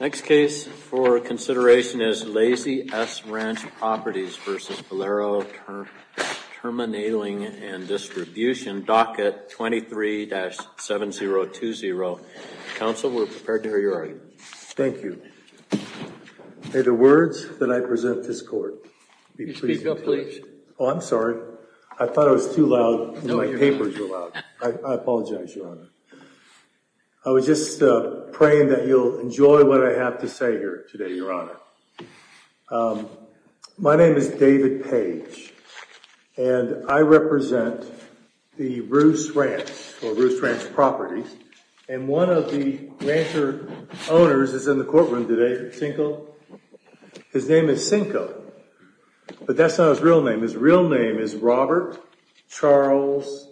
Next case for consideration is Lazy S Ranch Properties v. Valero Terminaling and Distribution, docket 23-7020. Counsel, we're prepared to hear your argument. Thank you. May the words that I present to this court be pleasing to you. Oh, I'm sorry. I thought I was too loud and my papers were loud. I apologize, Your Honor. I was just praying that you'll enjoy what I have to say here today, Your Honor. My name is David Page, and I represent the Roos Ranch, or Roos Ranch Properties. And one of the rancher owners is in the courtroom today, Cinco. His name is Cinco, but that's not his real name. His real name is Robert Charles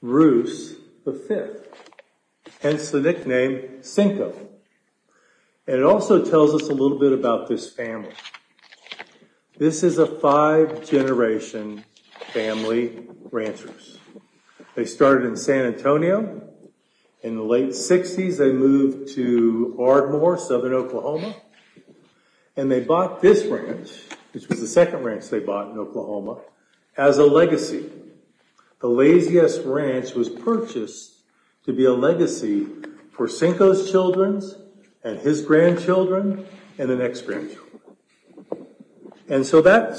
Roos V, hence the nickname Cinco. And it also tells us a little bit about this family. This is a five-generation family rancher. They started in San Antonio. In the late 60s, they moved to Ardmore, Southern Oklahoma. And they bought this ranch, which was the second ranch they bought in Oklahoma, as a legacy. The Lazy S Ranch was purchased to be a legacy for Cinco's children and his grandchildren and the next grandchildren. And so that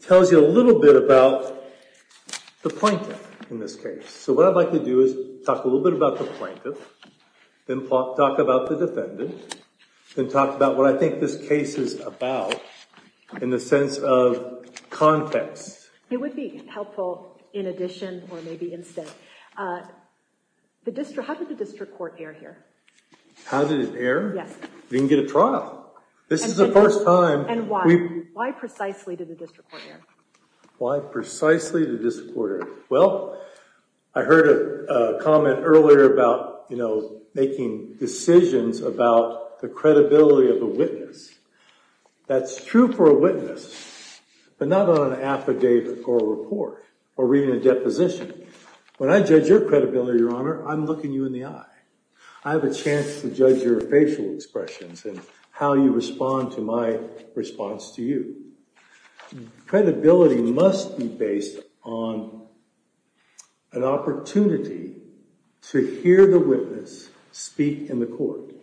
tells you a little bit about the plaintiff in this case. So what I'd like to do is talk a little bit about the plaintiff, then talk about the defendant, then talk about what I think this case is about in the sense of context. It would be helpful in addition, or maybe instead. How did the district court err here? How did it err? Yes. We didn't get a trial. This is the first time. And why? Why precisely did the district court err? Why precisely did the district court err? Well, I heard a comment earlier about, you know, making decisions about the credibility of a witness. That's true for a witness, but not on an affidavit or a report or reading a deposition. When I judge your credibility, Your Honor, I'm looking you in the eye. I have a chance to judge your facial expressions and how you respond to my response to you. Credibility must be based on an opportunity to hear the witness speak in the court.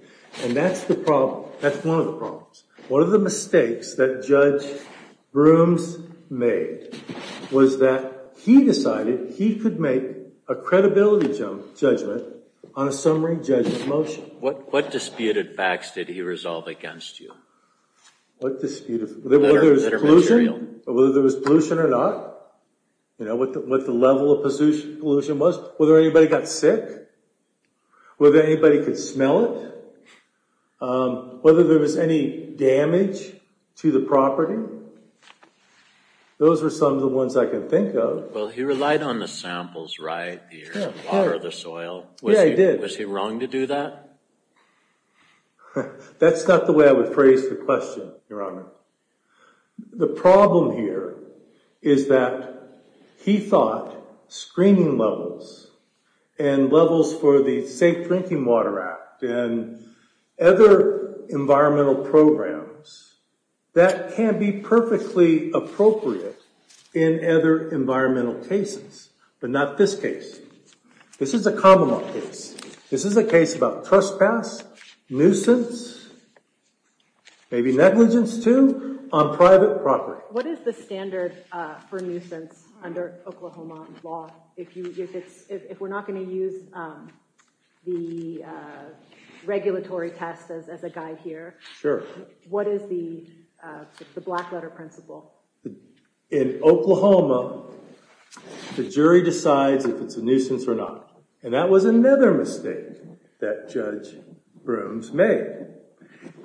And that's the problem. That's one of the problems. One of the mistakes that Judge Brooms made was that he decided he could make a credibility judgment on a summary judgment motion. What disputed facts did he resolve against you? Whether there was pollution or not. What the level of pollution was. Whether anybody got sick. Whether anybody could smell it. Whether there was any damage to the property. Those are some of the ones I can think of. Well, he relied on the samples, right? The earth and water, the soil. Yeah, he did. Was he wrong to do that? That's not the way I would phrase the question, Your Honor. The problem here is that he thought screening levels and levels for the Safe Drinking Water Act and other environmental programs, that can be perfectly appropriate in other environmental cases. But not this case. This is a common law case. This is a case about trespass, nuisance, maybe negligence too, on private property. What is the standard for nuisance under Oklahoma law? If we're not going to use the regulatory test as a guide here, what is the black letter principle? In Oklahoma, the jury decides if it's a nuisance or not. And that was another mistake that Judge Brooms made.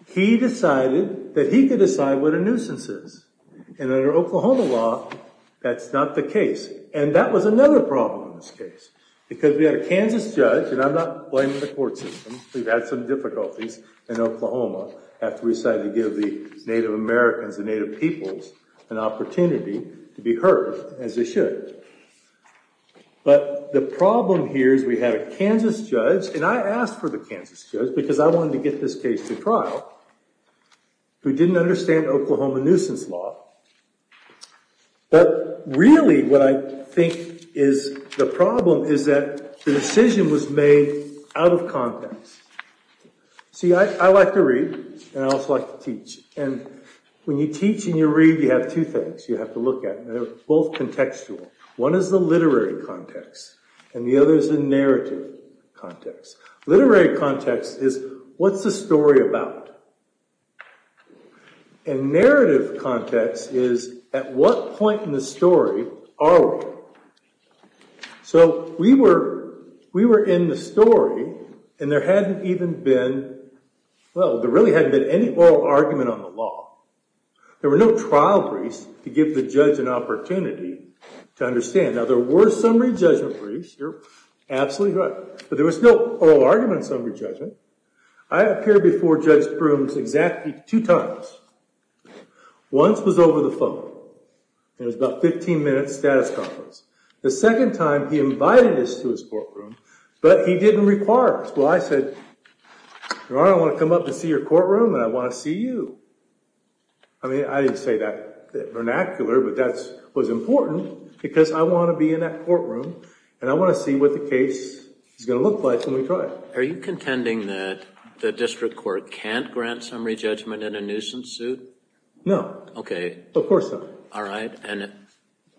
He decided that he could decide what a nuisance is. And under Oklahoma law, that's not the case. And that was another problem in this case. Because we had a Kansas judge, and I'm not blaming the court system. We've had some difficulties in Oklahoma after we decided to give the Native Americans and Native peoples an opportunity to be heard as they should. But the problem here is we had a Kansas judge, and I asked for the Kansas judge because I wanted to get this case to trial, who didn't understand Oklahoma nuisance law. But really what I think is the problem is that the decision was made out of context. See, I like to read, and I also like to teach. And when you teach and you read, you have two things you have to look at. They're both contextual. One is the literary context, and the other is the narrative context. Literary context is, what's the story about? And narrative context is, at what point in the story are we? So we were in the story, and there hadn't even been, well, there really hadn't been any oral argument on the law. There were no trial briefs to give the judge an opportunity to understand. Now, there were summary judgment briefs. You're absolutely right. But there was no oral argument on summary judgment. I appeared before Judge Brooms exactly two times. Once was over the phone, and it was about a 15-minute status conference. The second time, he invited us to his courtroom, but he didn't require us. Well, I said, Your Honor, I want to come up and see your courtroom, and I want to see you. I mean, I didn't say that vernacular, but that was important because I want to be in that courtroom, and I want to see what the case is going to look like when we try it. Are you contending that the district court can't grant summary judgment in a nuisance suit? No. OK. Of course not. All right. And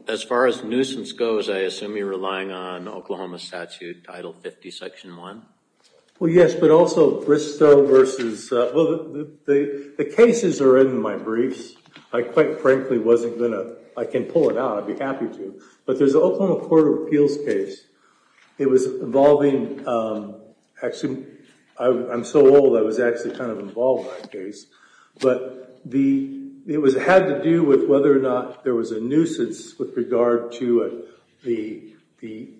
as far as nuisance goes, I assume you're relying on Oklahoma statute Title 50, Section 1? Well, yes, but also Bristow versus—well, the cases are in my briefs. I quite frankly wasn't going to—I can pull it out. I'd be happy to. But there's the Oklahoma Court of Appeals case. It was involving—actually, I'm so old, I was actually kind of involved in that case. But it had to do with whether or not there was a nuisance with regard to the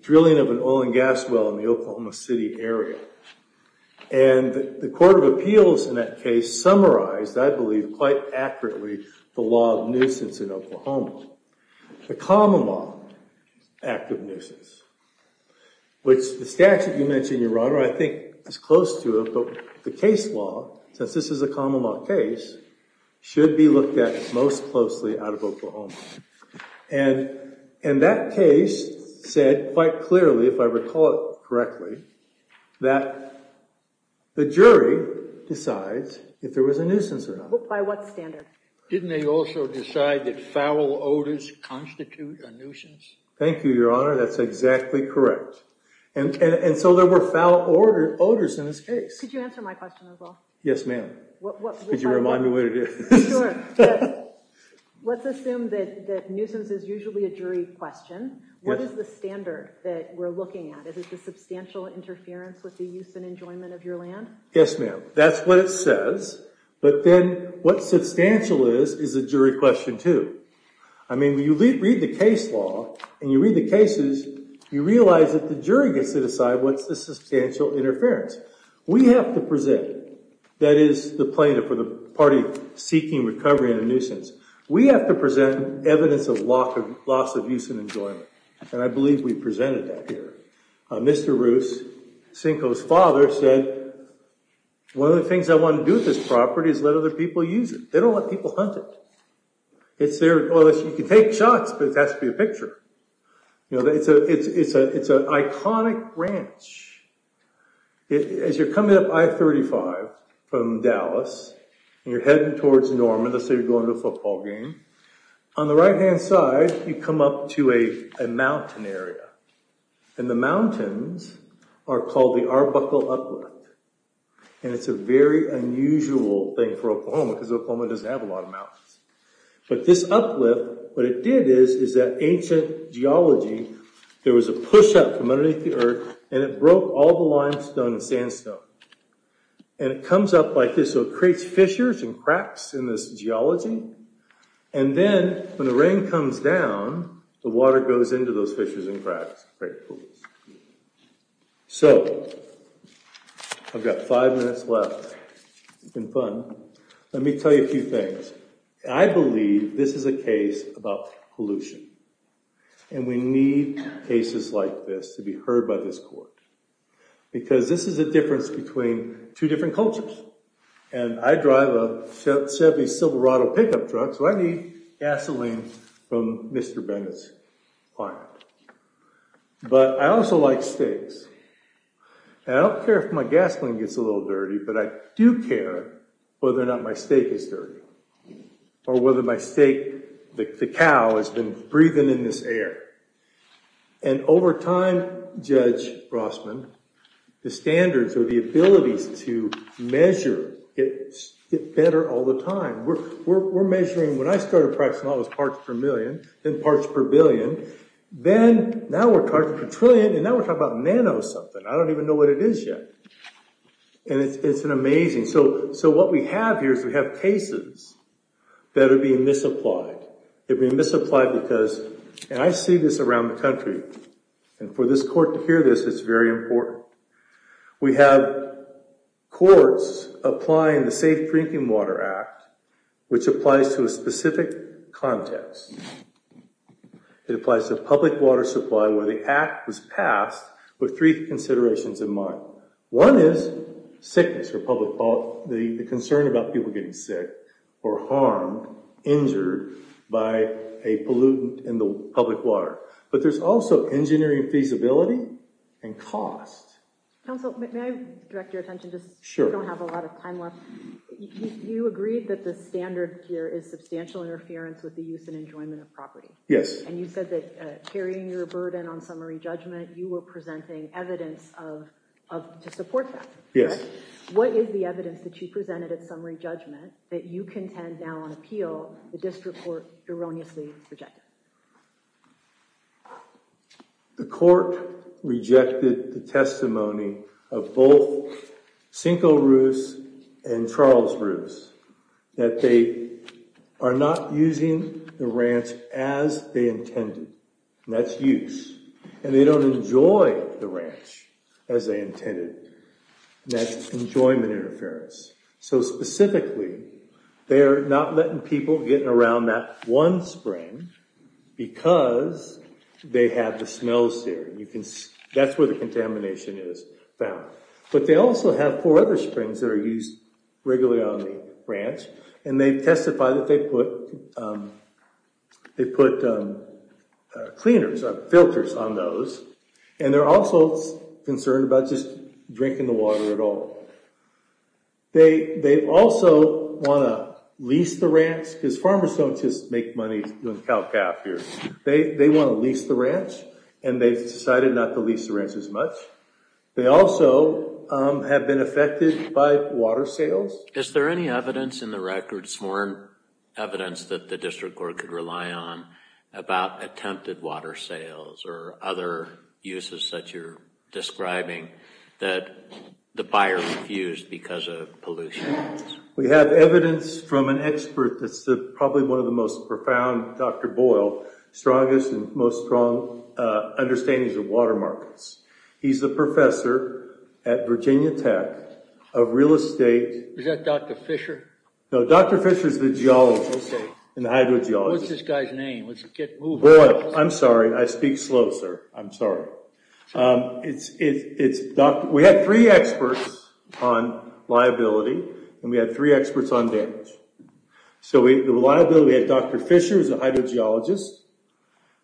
drilling of an oil and gas well in the Oklahoma City area. And the Court of Appeals in that case summarized, I believe quite accurately, the law of nuisance in Oklahoma. The common law act of nuisance, which the statute you mentioned, Your Honor, I think is close to it. So the case law, since this is a common law case, should be looked at most closely out of Oklahoma. And that case said quite clearly, if I recall it correctly, that the jury decides if there was a nuisance or not. By what standard? Didn't they also decide that foul odors constitute a nuisance? Thank you, Your Honor. That's exactly correct. And so there were foul odors in this case. Could you answer my question as well? Yes, ma'am. Could you remind me what it is? Sure. Let's assume that nuisance is usually a jury question. What is the standard that we're looking at? Is it the substantial interference with the use and enjoyment of your land? Yes, ma'am. That's what it says. But then what substantial is is a jury question, too. I mean, when you read the case law and you read the cases, you realize that the jury gets to decide what's the substantial interference. We have to present, that is the plaintiff or the party seeking recovery in a nuisance, we have to present evidence of loss of use and enjoyment. And I believe we presented that here. Mr. Roos, Cinco's father, said, one of the things I want to do with this property is let other people use it. They don't let people hunt it. It's there. Well, you can take shots, but it has to be a picture. It's an iconic ranch. As you're coming up I-35 from Dallas and you're heading towards Norman, let's say you're going to a football game, on the right-hand side, you come up to a mountain area. And the mountains are called the Arbuckle Uplift. And it's a very unusual thing for Oklahoma because Oklahoma doesn't have a lot of mountains. But this uplift, what it did is, is that ancient geology, there was a push-up from underneath the earth and it broke all the limestone and sandstone. And it comes up like this, so it creates fissures and cracks in this geology. And then, when the rain comes down, the water goes into those fissures and cracks and creates pools. So, I've got five minutes left. It's been fun. Let me tell you a few things. I believe this is a case about pollution. And we need cases like this to be heard by this court. Because this is a difference between two different cultures. And I drive a Chevy Silverado pickup truck, so I need gasoline from Mr. Bennett's plant. But I also like steaks. And I don't care if my gasoline gets a little dirty, but I do care whether or not my steak is dirty. Or whether my steak, the cow, has been breathing in this air. And over time, Judge Rossman, the standards or the abilities to measure get better all the time. We're measuring, when I started practicing all those parts per million, then parts per billion, then, now we're talking per trillion, and now we're talking about nano-something. I don't even know what it is yet. And it's amazing. So, what we have here is we have cases that are being misapplied. They're being misapplied because, and I see this around the country, and for this court to hear this, it's very important. We have courts applying the Safe Drinking Water Act, which applies to a specific context. It applies to a public water supply where the act was passed with three considerations in mind. One is sickness, or the concern about people getting sick or harmed, injured, by a pollutant in the public water. But there's also engineering feasibility and cost. Counsel, may I direct your attention? Sure. We don't have a lot of time left. You agreed that the standard here is substantial interference with the use and enjoyment of property. Yes. And you said that carrying your burden on summary judgment, you were presenting evidence to support that. Yes. What is the evidence that you presented at summary judgment that you contend now on appeal the district court erroneously rejected? The court rejected the testimony of both Cinco Ruz and Charles Ruz, that they are not using the ranch as they intended. And that's use. And they don't enjoy the ranch as they intended. And that's enjoyment interference. So specifically, they're not letting people get around that one spring because they have the smells there. That's where the contamination is found. But they also have four other springs that are used regularly on the ranch. And they testify that they put cleaners, filters on those. And they're also concerned about just drinking the water at all. They also want to lease the ranch because farmers don't just make money doing cow-calf here. They want to lease the ranch. And they've decided not to lease the ranch as much. They also have been affected by water sales. Is there any evidence in the records, more evidence that the district court could rely on, about attempted water sales or other uses that you're describing that the buyer refused because of pollution? We have evidence from an expert that's probably one of the most profound, Dr. Boyle, strongest and most strong understandings of water markets. He's a professor at Virginia Tech of real estate. Is that Dr. Fisher? No, Dr. Fisher's the geologist in the hydrogeology. What's this guy's name? Boyle. I'm sorry. I speak slow, sir. I'm sorry. We have three experts on liability. And we have three experts on damage. So the liability, we have Dr. Fisher, who's a hydrogeologist.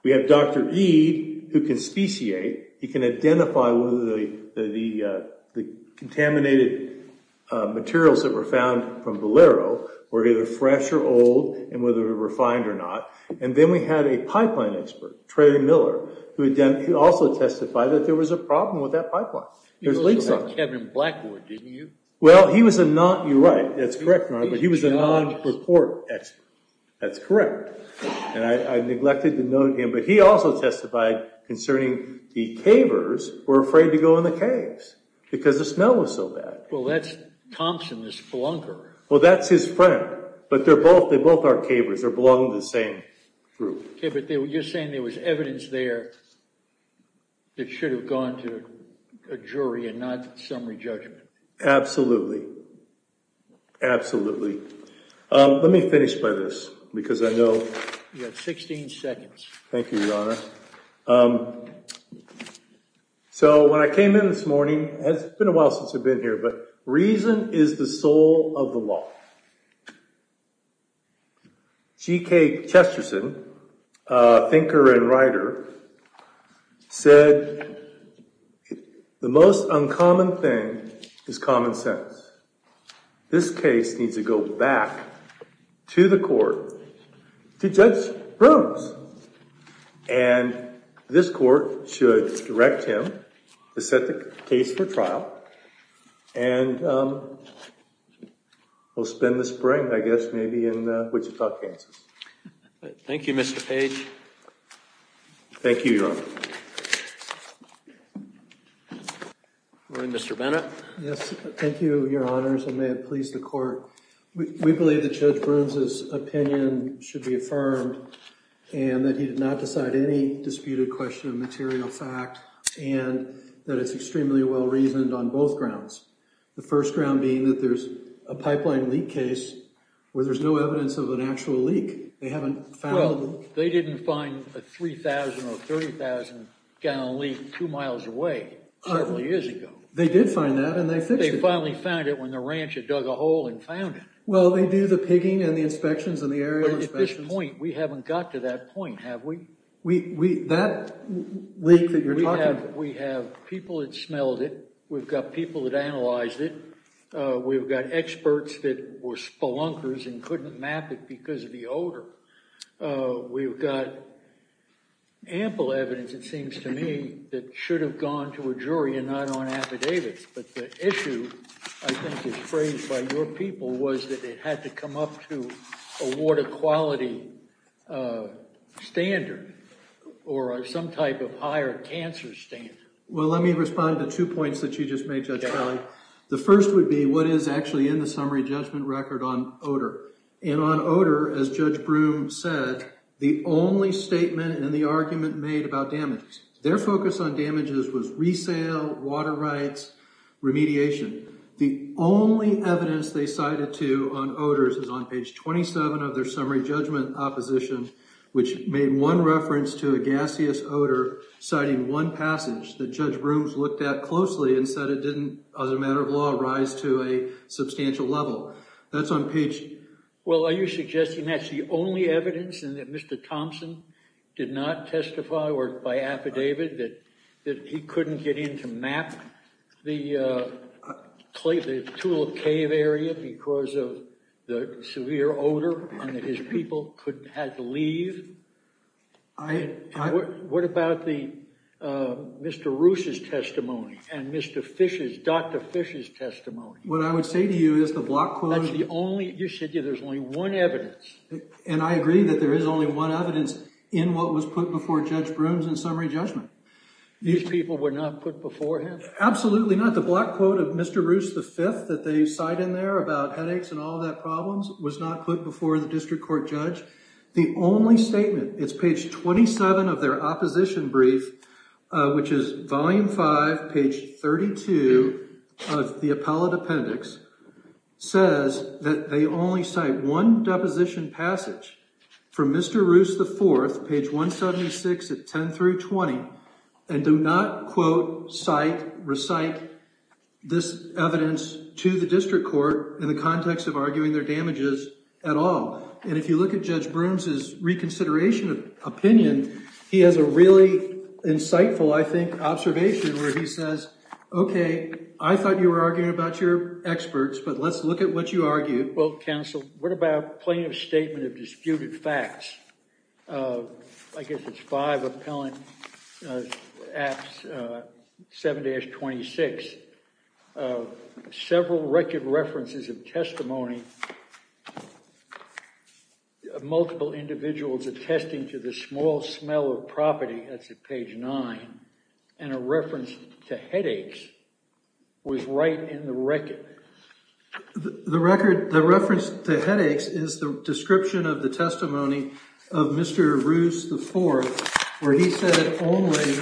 We have Dr. Eade, who can speciate. He can identify whether the contaminated materials that were found from Valero were either fresh or old and whether they were refined or not. And then we had a pipeline expert, Trey Miller, who also testified that there was a problem with that pipeline. You said Kevin Blackwood, didn't you? Well, he was a non-report expert. That's correct. And I neglected to note him, but he also testified concerning the cavers who were afraid to go in the caves because the smell was so bad. Well, that's Thompson, this belonger. Well, that's his friend. But they both are cavers. They belong to the same group. Okay, but you're saying there was evidence there that should have gone to a jury and not summary judgment. Absolutely. Absolutely. Let me finish by this because I know- You have 16 seconds. Thank you, Your Honor. So when I came in this morning, it's been a while since I've been here, but reason is the soul of the law. G.K. Chesterton, thinker and writer, said the most uncommon thing is common sense. This case needs to go back to the court, to Judge Brooms. And this court should direct him to set the case for trial. And we'll spend the spring, I guess, maybe in Wichita, Kansas. Thank you, Mr. Page. Thank you, Your Honor. Morning, Mr. Bennett. Yes, thank you, Your Honors, and may it please the court. We believe that Judge Brooms' opinion should be affirmed and that he did not decide any disputed question of material fact and that it's extremely well-reasoned on both grounds. The first ground being that there's a pipeline leak case where there's no evidence of an actual leak. They haven't found- Well, they didn't find a 3,000 or 30,000-gallon leak two miles away several years ago. They did find that, and they fixed it. They finally found it when the ranch had dug a hole and found it. Well, they do the pigging and the inspections and the aerial inspections. But at this point, we haven't got to that point, have we? That leak that you're talking about- We have people that smelled it. We've got people that analyzed it. We've got experts that were spelunkers and couldn't map it because of the odor. We've got ample evidence, it seems to me, that should have gone to a jury and not on affidavits. But the issue, I think, is phrased by your people was that it had to come up to a water quality standard or some type of higher cancer standard. Well, let me respond to two points that you just made, Judge Kelly. The first would be what is actually in the summary judgment record on odor. And on odor, as Judge Broom said, the only statement and the argument made about damage, their focus on damages was resale, water rights, remediation. The only evidence they cited to on odors is on page 27 of their summary judgment opposition, which made one reference to a gaseous odor, citing one passage that Judge Broom's looked at closely and said it didn't, as a matter of law, rise to a substantial level. That's on page— Well, are you suggesting that's the only evidence and that Mr. Thompson did not testify or by affidavit that he couldn't get in to map the tool cave area because of the severe odor and that his people had to leave? I— What about the—Mr. Roos's testimony and Mr. Fish's—Dr. Fish's testimony? What I would say to you is the block quote— That's the only—you said there's only one evidence. And I agree that there is only one evidence in what was put before Judge Broom's in summary judgment. These people were not put before him? Absolutely not. The block quote of Mr. Roos V that they cite in there about headaches and all of that problems was not put before the district court judge. The only statement—it's page 27 of their opposition brief, which is volume 5, page 32 of the appellate appendix—says that they only cite one deposition passage from Mr. Roos IV, page 176 at 10 through 20, and do not quote, cite, recite this evidence to the district court in the context of arguing their damages at all. And if you look at Judge Broom's reconsideration of opinion, he has a really insightful, I think, observation where he says, okay, I thought you were arguing about your experts, but let's look at what you argue. Well, counsel, what about plaintiff's statement of disputed facts? I guess it's five appellant—apps 7-26. Several record references of testimony of multiple individuals attesting to the small smell of property—that's at page 9—and a reference to headaches was right in the record. The reference to headaches is the description of the testimony of Mr. Roos IV, where he said only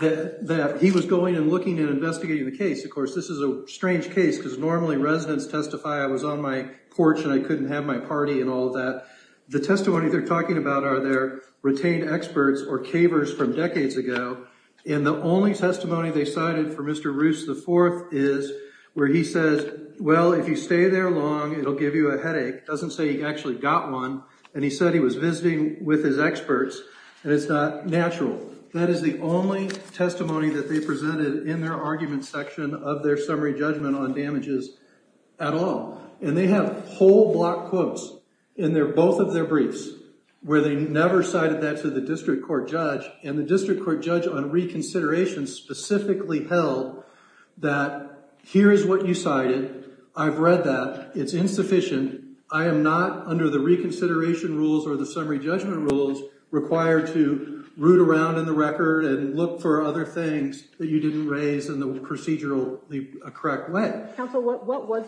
that he was going and looking and investigating the case. Of course, this is a strange case because normally residents testify, I was on my porch and I couldn't have my party and all of that. The testimony they're talking about are their retained experts or cavers from decades ago, and the only testimony they cited for Mr. Roos IV is where he says, well, if you stay there long, it'll give you a headache. It doesn't say he actually got one, and he said he was visiting with his experts, and it's not natural. That is the only testimony that they presented in their argument section of their summary judgment on damages at all. And they have whole block quotes in both of their briefs where they never cited that to the district court judge. And the district court judge on reconsideration specifically held that here is what you cited. I've read that. It's insufficient. I am not, under the reconsideration rules or the summary judgment rules, required to root around in the record and look for other things that you didn't raise in the procedural correct way. Counsel, what was,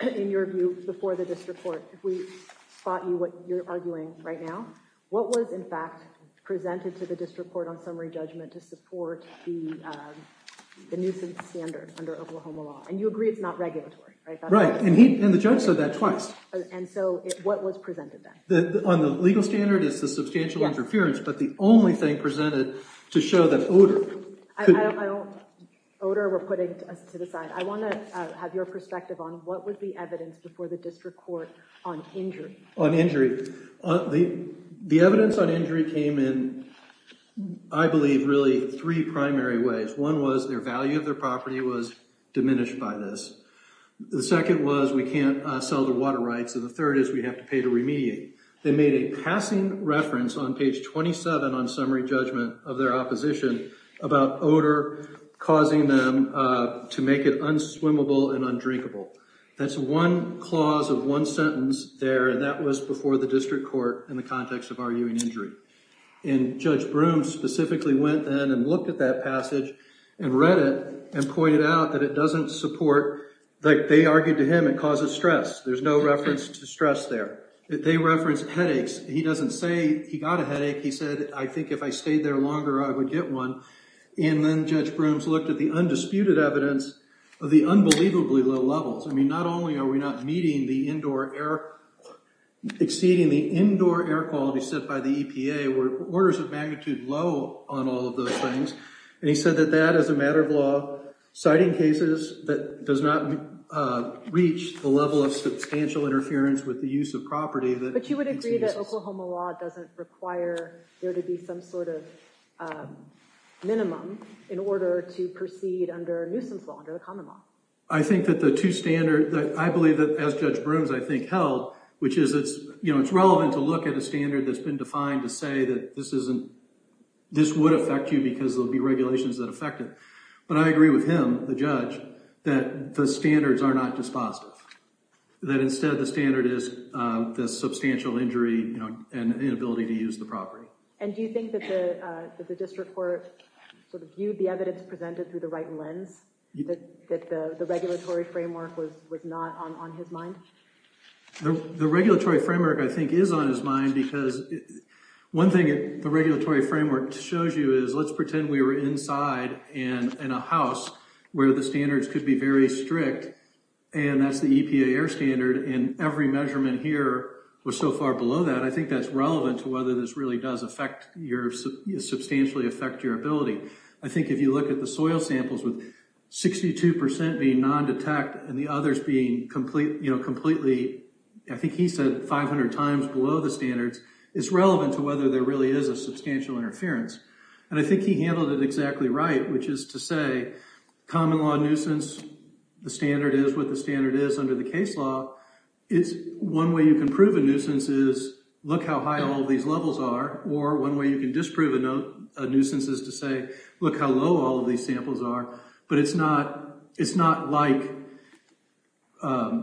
in your view, before the district court, if we spot you what you're arguing right now, what was, in fact, presented to the district court on summary judgment to support the nuisance standard under Oklahoma law? And you agree it's not regulatory, right? Right, and the judge said that twice. And so what was presented then? On the legal standard, it's the substantial interference, but the only thing presented to show that odor. Odor, we're putting to the side. I want to have your perspective on what was the evidence before the district court on injury? On injury. The evidence on injury came in, I believe, really three primary ways. One was their value of their property was diminished by this. The second was we can't sell the water rights. And the third is we have to pay to remediate. They made a passing reference on page 27 on summary judgment of their opposition about odor causing them to make it unswimmable and undrinkable. That's one clause of one sentence there, and that was before the district court in the context of arguing injury. And Judge Broome specifically went then and looked at that passage and read it and pointed out that it doesn't support, like they argued to him, it causes stress. There's no reference to stress there. They reference headaches. He doesn't say he got a headache. He said, I think if I stayed there longer, I would get one. And then Judge Broome's looked at the undisputed evidence of the unbelievably low levels. I mean, not only are we not meeting the indoor air, exceeding the indoor air quality set by the EPA, we're orders of magnitude low on all of those things. And he said that that is a matter of law, citing cases that does not reach the level of substantial interference with the use of property. But you would agree that Oklahoma law doesn't require there to be some sort of minimum in order to proceed under a nuisance law, under the common law. I think that the two standards that I believe that, as Judge Broome's, I think, held, which is it's relevant to look at a standard that's been defined to say that this would affect you because there'll be regulations that affect it. But I agree with him, the judge, that the standards are not dispositive, that instead the standard is the substantial injury and inability to use the property. And do you think that the district court sort of viewed the evidence presented through the right lens, that the regulatory framework was not on his mind? The regulatory framework, I think, is on his mind because one thing the regulatory framework shows you is let's pretend we were inside and in a house where the standards could be very strict. And that's the EPA air standard and every measurement here was so far below that. I think that's relevant to whether this really does affect your, substantially affect your ability. I think if you look at the soil samples with 62% being non-detect and the others being complete, you know, completely, I think he said 500 times below the standards, it's relevant to whether there really is a substantial interference. And I think he handled it exactly right, which is to say common law nuisance, the standard is what the standard is under the case law. It's one way you can prove a nuisance is look how high all these levels are, or one way you can disprove a nuisance is to say, look how low all these samples are. But it's not, it's not like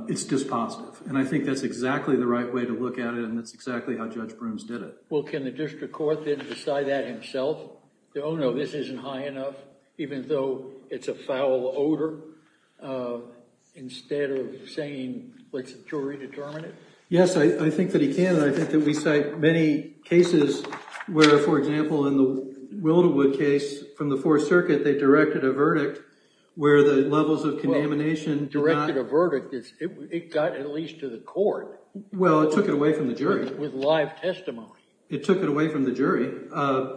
it's dispositive. And I think that's exactly the right way to look at it. And that's exactly how Judge Brooms did it. Well, can the district court then decide that himself? Oh, no, this isn't high enough, even though it's a foul odor? Instead of saying, let's jury determine it? Yes, I think that he can. I think that we cite many cases where, for example, in the Wilderwood case from the Fourth Circuit, they directed a verdict where the levels of contamination... It took it away from the jury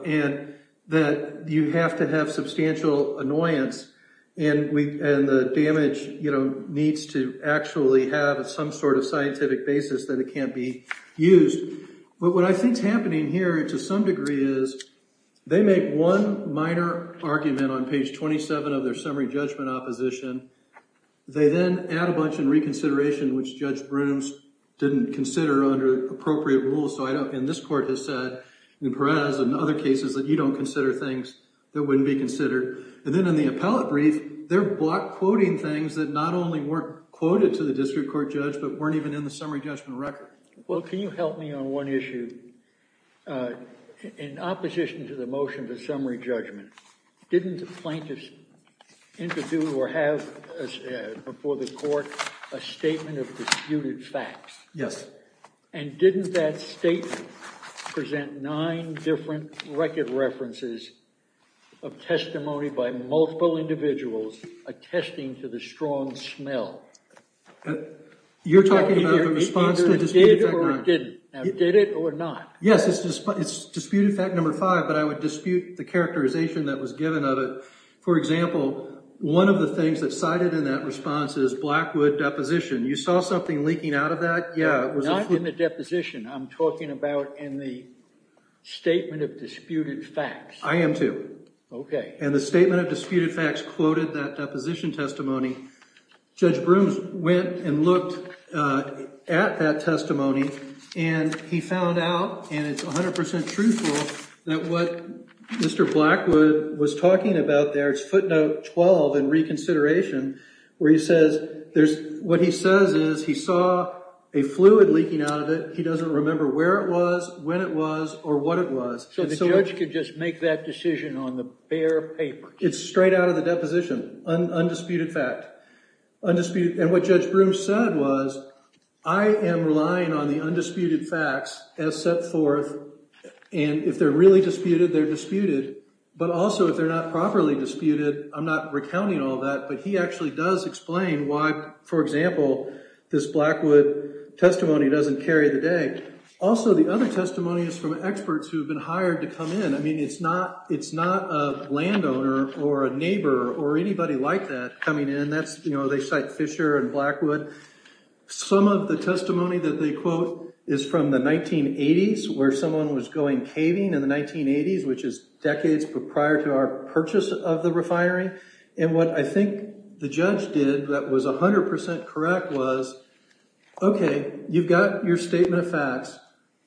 and that you have to have substantial annoyance and the damage needs to actually have some sort of scientific basis that it can't be used. But what I think is happening here, to some degree, is they make one minor argument on page 27 of their summary judgment opposition. They then add a bunch in reconsideration, which Judge Brooms didn't consider under appropriate rules. So I don't, and this court has said in Perez and other cases that you don't consider things that wouldn't be considered. And then in the appellate brief, they're quoting things that not only weren't quoted to the district court judge, but weren't even in the summary judgment record. Well, can you help me on one issue? In opposition to the motion for summary judgment, didn't the plaintiffs interview or have before the court a statement of disputed facts? Yes. And didn't that statement present nine different record references of testimony by multiple individuals attesting to the strong smell? You're talking about the response to the disputed fact nine. Now, did it or not? Yes, it's disputed fact number five, but I would dispute the characterization that was given of it. For example, one of the things that's cited in that response is Blackwood deposition. You saw something leaking out of that? Not in the deposition. I'm talking about in the statement of disputed facts. I am, too. Okay. And the statement of disputed facts quoted that deposition testimony. Judge Brooms went and looked at that testimony, and he found out, and it's 100% truthful, that what Mr. Blackwood was talking about there, it's footnote 12 in reconsideration, where he says there's what he says is he saw a fluid leaking out of it. He doesn't remember where it was, when it was, or what it was. So the judge could just make that decision on the bare paper. It's straight out of the deposition, undisputed fact. And what Judge Brooms said was, I am relying on the undisputed facts as set forth, and if they're really disputed, they're disputed. But also, if they're not properly disputed, I'm not recounting all that, but he actually does explain why, for example, this Blackwood testimony doesn't carry the day. Also, the other testimony is from experts who have been hired to come in. I mean, it's not a landowner or a neighbor or anybody like that coming in. They cite Fisher and Blackwood. Some of the testimony that they quote is from the 1980s, where someone was going caving in the 1980s, which is decades prior to our purchase of the refinery. And what I think the judge did that was 100% correct was, okay, you've got your statement of facts,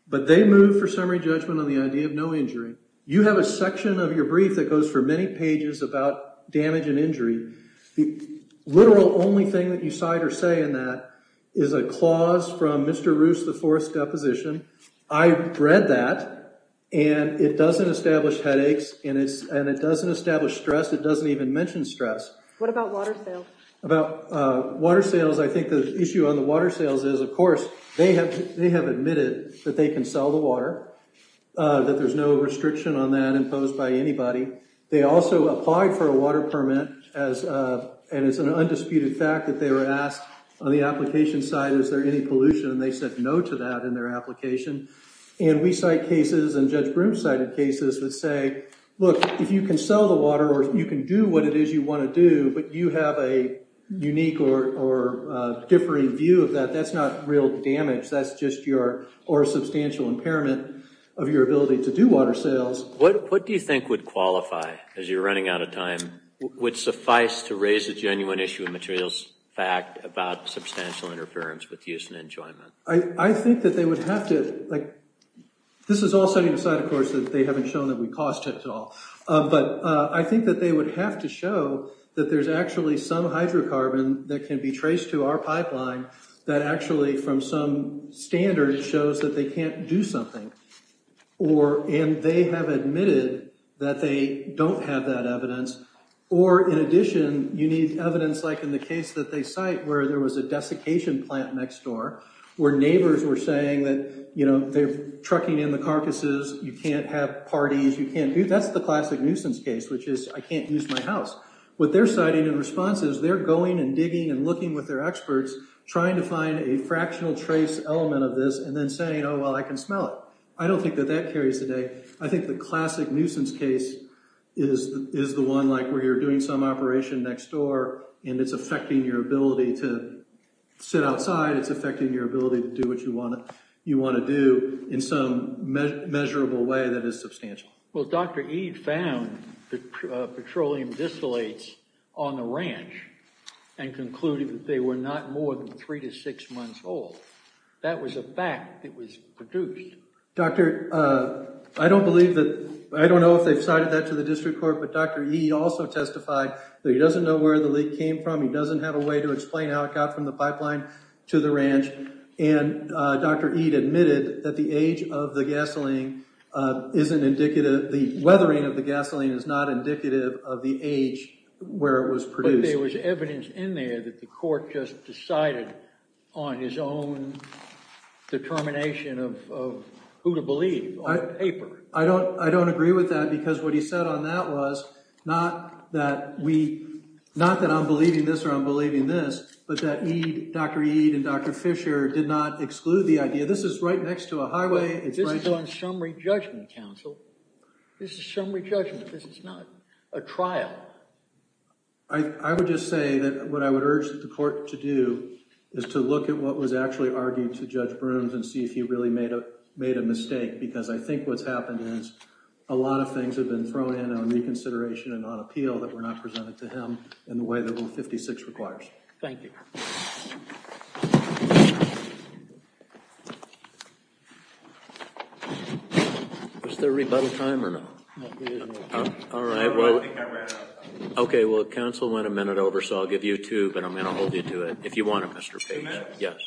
but they move for summary judgment on the idea of no injury. You have a section of your brief that goes for many pages about damage and injury. The literal only thing that you cite or say in that is a clause from Mr. Roos, the fourth deposition. I read that, and it doesn't establish headaches, and it doesn't establish stress. It doesn't even mention stress. What about water sales? About water sales, I think the issue on the water sales is, of course, they have admitted that they can sell the water, that there's no restriction on that imposed by anybody. They also applied for a water permit, and it's an undisputed fact that they were asked on the application side, is there any pollution, and they said no to that in their application. And we cite cases, and Judge Broom cited cases that say, look, if you can sell the water or you can do what it is you want to do, but you have a unique or differing view of that, that's not real damage. That's just your, or a substantial impairment of your ability to do water sales. What do you think would qualify, as you're running out of time, would suffice to raise a genuine issue of materials fact about substantial interference with use and enjoyment? I think that they would have to, like, this is all setting aside, of course, that they haven't shown that we cost it at all. But I think that they would have to show that there's actually some hydrocarbon that can be traced to our pipeline that actually from some standard shows that they can't do something. Or, and they have admitted that they don't have that evidence, or in addition, you need evidence like in the case that they cite where there was a desiccation plant next door, where neighbors were saying that, you know, they're trucking in the carcasses, you can't have parties, you can't do, that's the classic nuisance case, which is I can't use my house. What they're citing in response is they're going and digging and looking with their experts, trying to find a fractional trace element of this and then saying, oh, well, I can smell it. I don't think that that carries today. I think the classic nuisance case is the one like where you're doing some operation next door, and it's affecting your ability to sit outside, it's affecting your ability to do what you want to do in some measurable way that is substantial. Well, Dr. Eade found the petroleum distillates on the ranch and concluded that they were not more than three to six months old. That was a fact that was produced. Doctor, I don't believe that, I don't know if they've cited that to the district court, but Dr. Eade also testified that he doesn't know where the leak came from. He doesn't have a way to explain how it got from the pipeline to the ranch, and Dr. Eade admitted that the age of the gasoline isn't indicative, the weathering of the gasoline is not indicative of the age where it was produced. I believe there was evidence in there that the court just decided on his own determination of who to believe on paper. I don't agree with that because what he said on that was not that I'm believing this or I'm believing this, but that Dr. Eade and Dr. Fisher did not exclude the idea. This is right next to a highway. This is on summary judgment, counsel. This is summary judgment. This is not a trial. I would just say that what I would urge the court to do is to look at what was actually argued to Judge Brooms and see if he really made a mistake because I think what's happened is a lot of things have been thrown in on reconsideration and on appeal that were not presented to him in the way that Rule 56 requires. Thank you. Thank you. Was there a rebuttal time or no? All right. Okay. Well, counsel went a minute over, so I'll give you two, but I'm going to hold you to it if you want to, Mr. Page. Yes.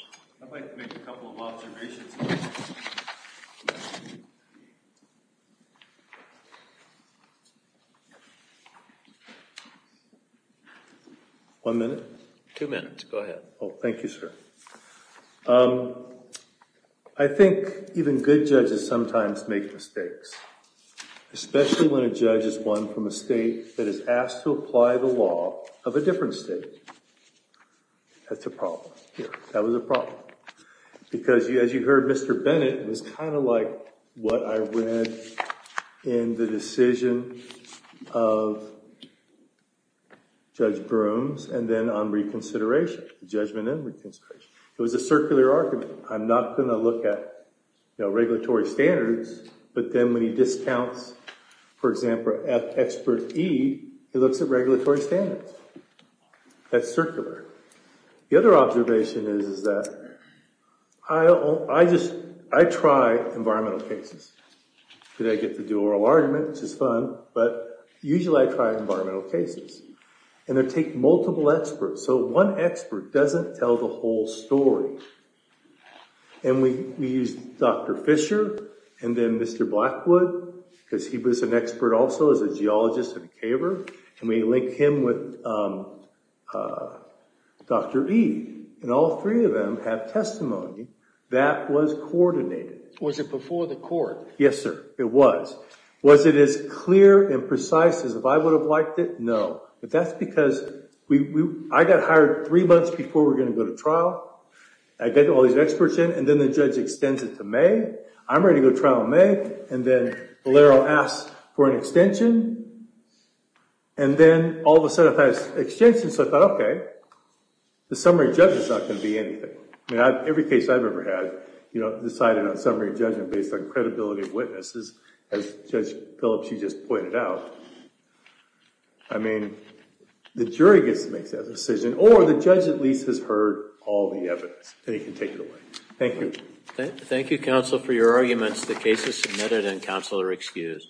I'd like to make a couple of observations. One minute. Two minutes. Go ahead. Thank you, sir. I think even good judges sometimes make mistakes, especially when a judge is one from a state that is asked to apply the law of a different state. That's a problem. That was a problem because, as you heard, Mr. Bennett, it was kind of like what I read in the decision of Judge Brooms and then on reconsideration, judgment and reconsideration. It was a circular argument. I'm not going to look at regulatory standards, but then when he discounts, for example, expert E, he looks at regulatory standards. That's circular. The other observation is that I try environmental cases. I get to do oral argument, which is fun, but usually I try environmental cases. They take multiple experts. One expert doesn't tell the whole story. We used Dr. Fisher and then Mr. Blackwood because he was an expert also as a geologist and a caver, and we linked him with Dr. E. All three of them have testimony that was coordinated. Was it before the court? Yes, sir. It was. Was it as clear and precise as if I would have liked it? No. But that's because I got hired three months before we were going to go to trial. I get all these experts in, and then the judge extends it to May. I'm ready to go to trial in May, and then Valero asks for an extension, and then all of a sudden it has extensions. So I thought, okay, the summary judge is not going to be anything. Every case I've ever had decided on summary judgment based on credibility of witnesses, as Judge Phillips, she just pointed out. I mean, the jury gets to make that decision, or the judge at least has heard all the evidence, and he can take it away. Thank you. Thank you, counsel, for your arguments. The case is submitted, and counsel are excused.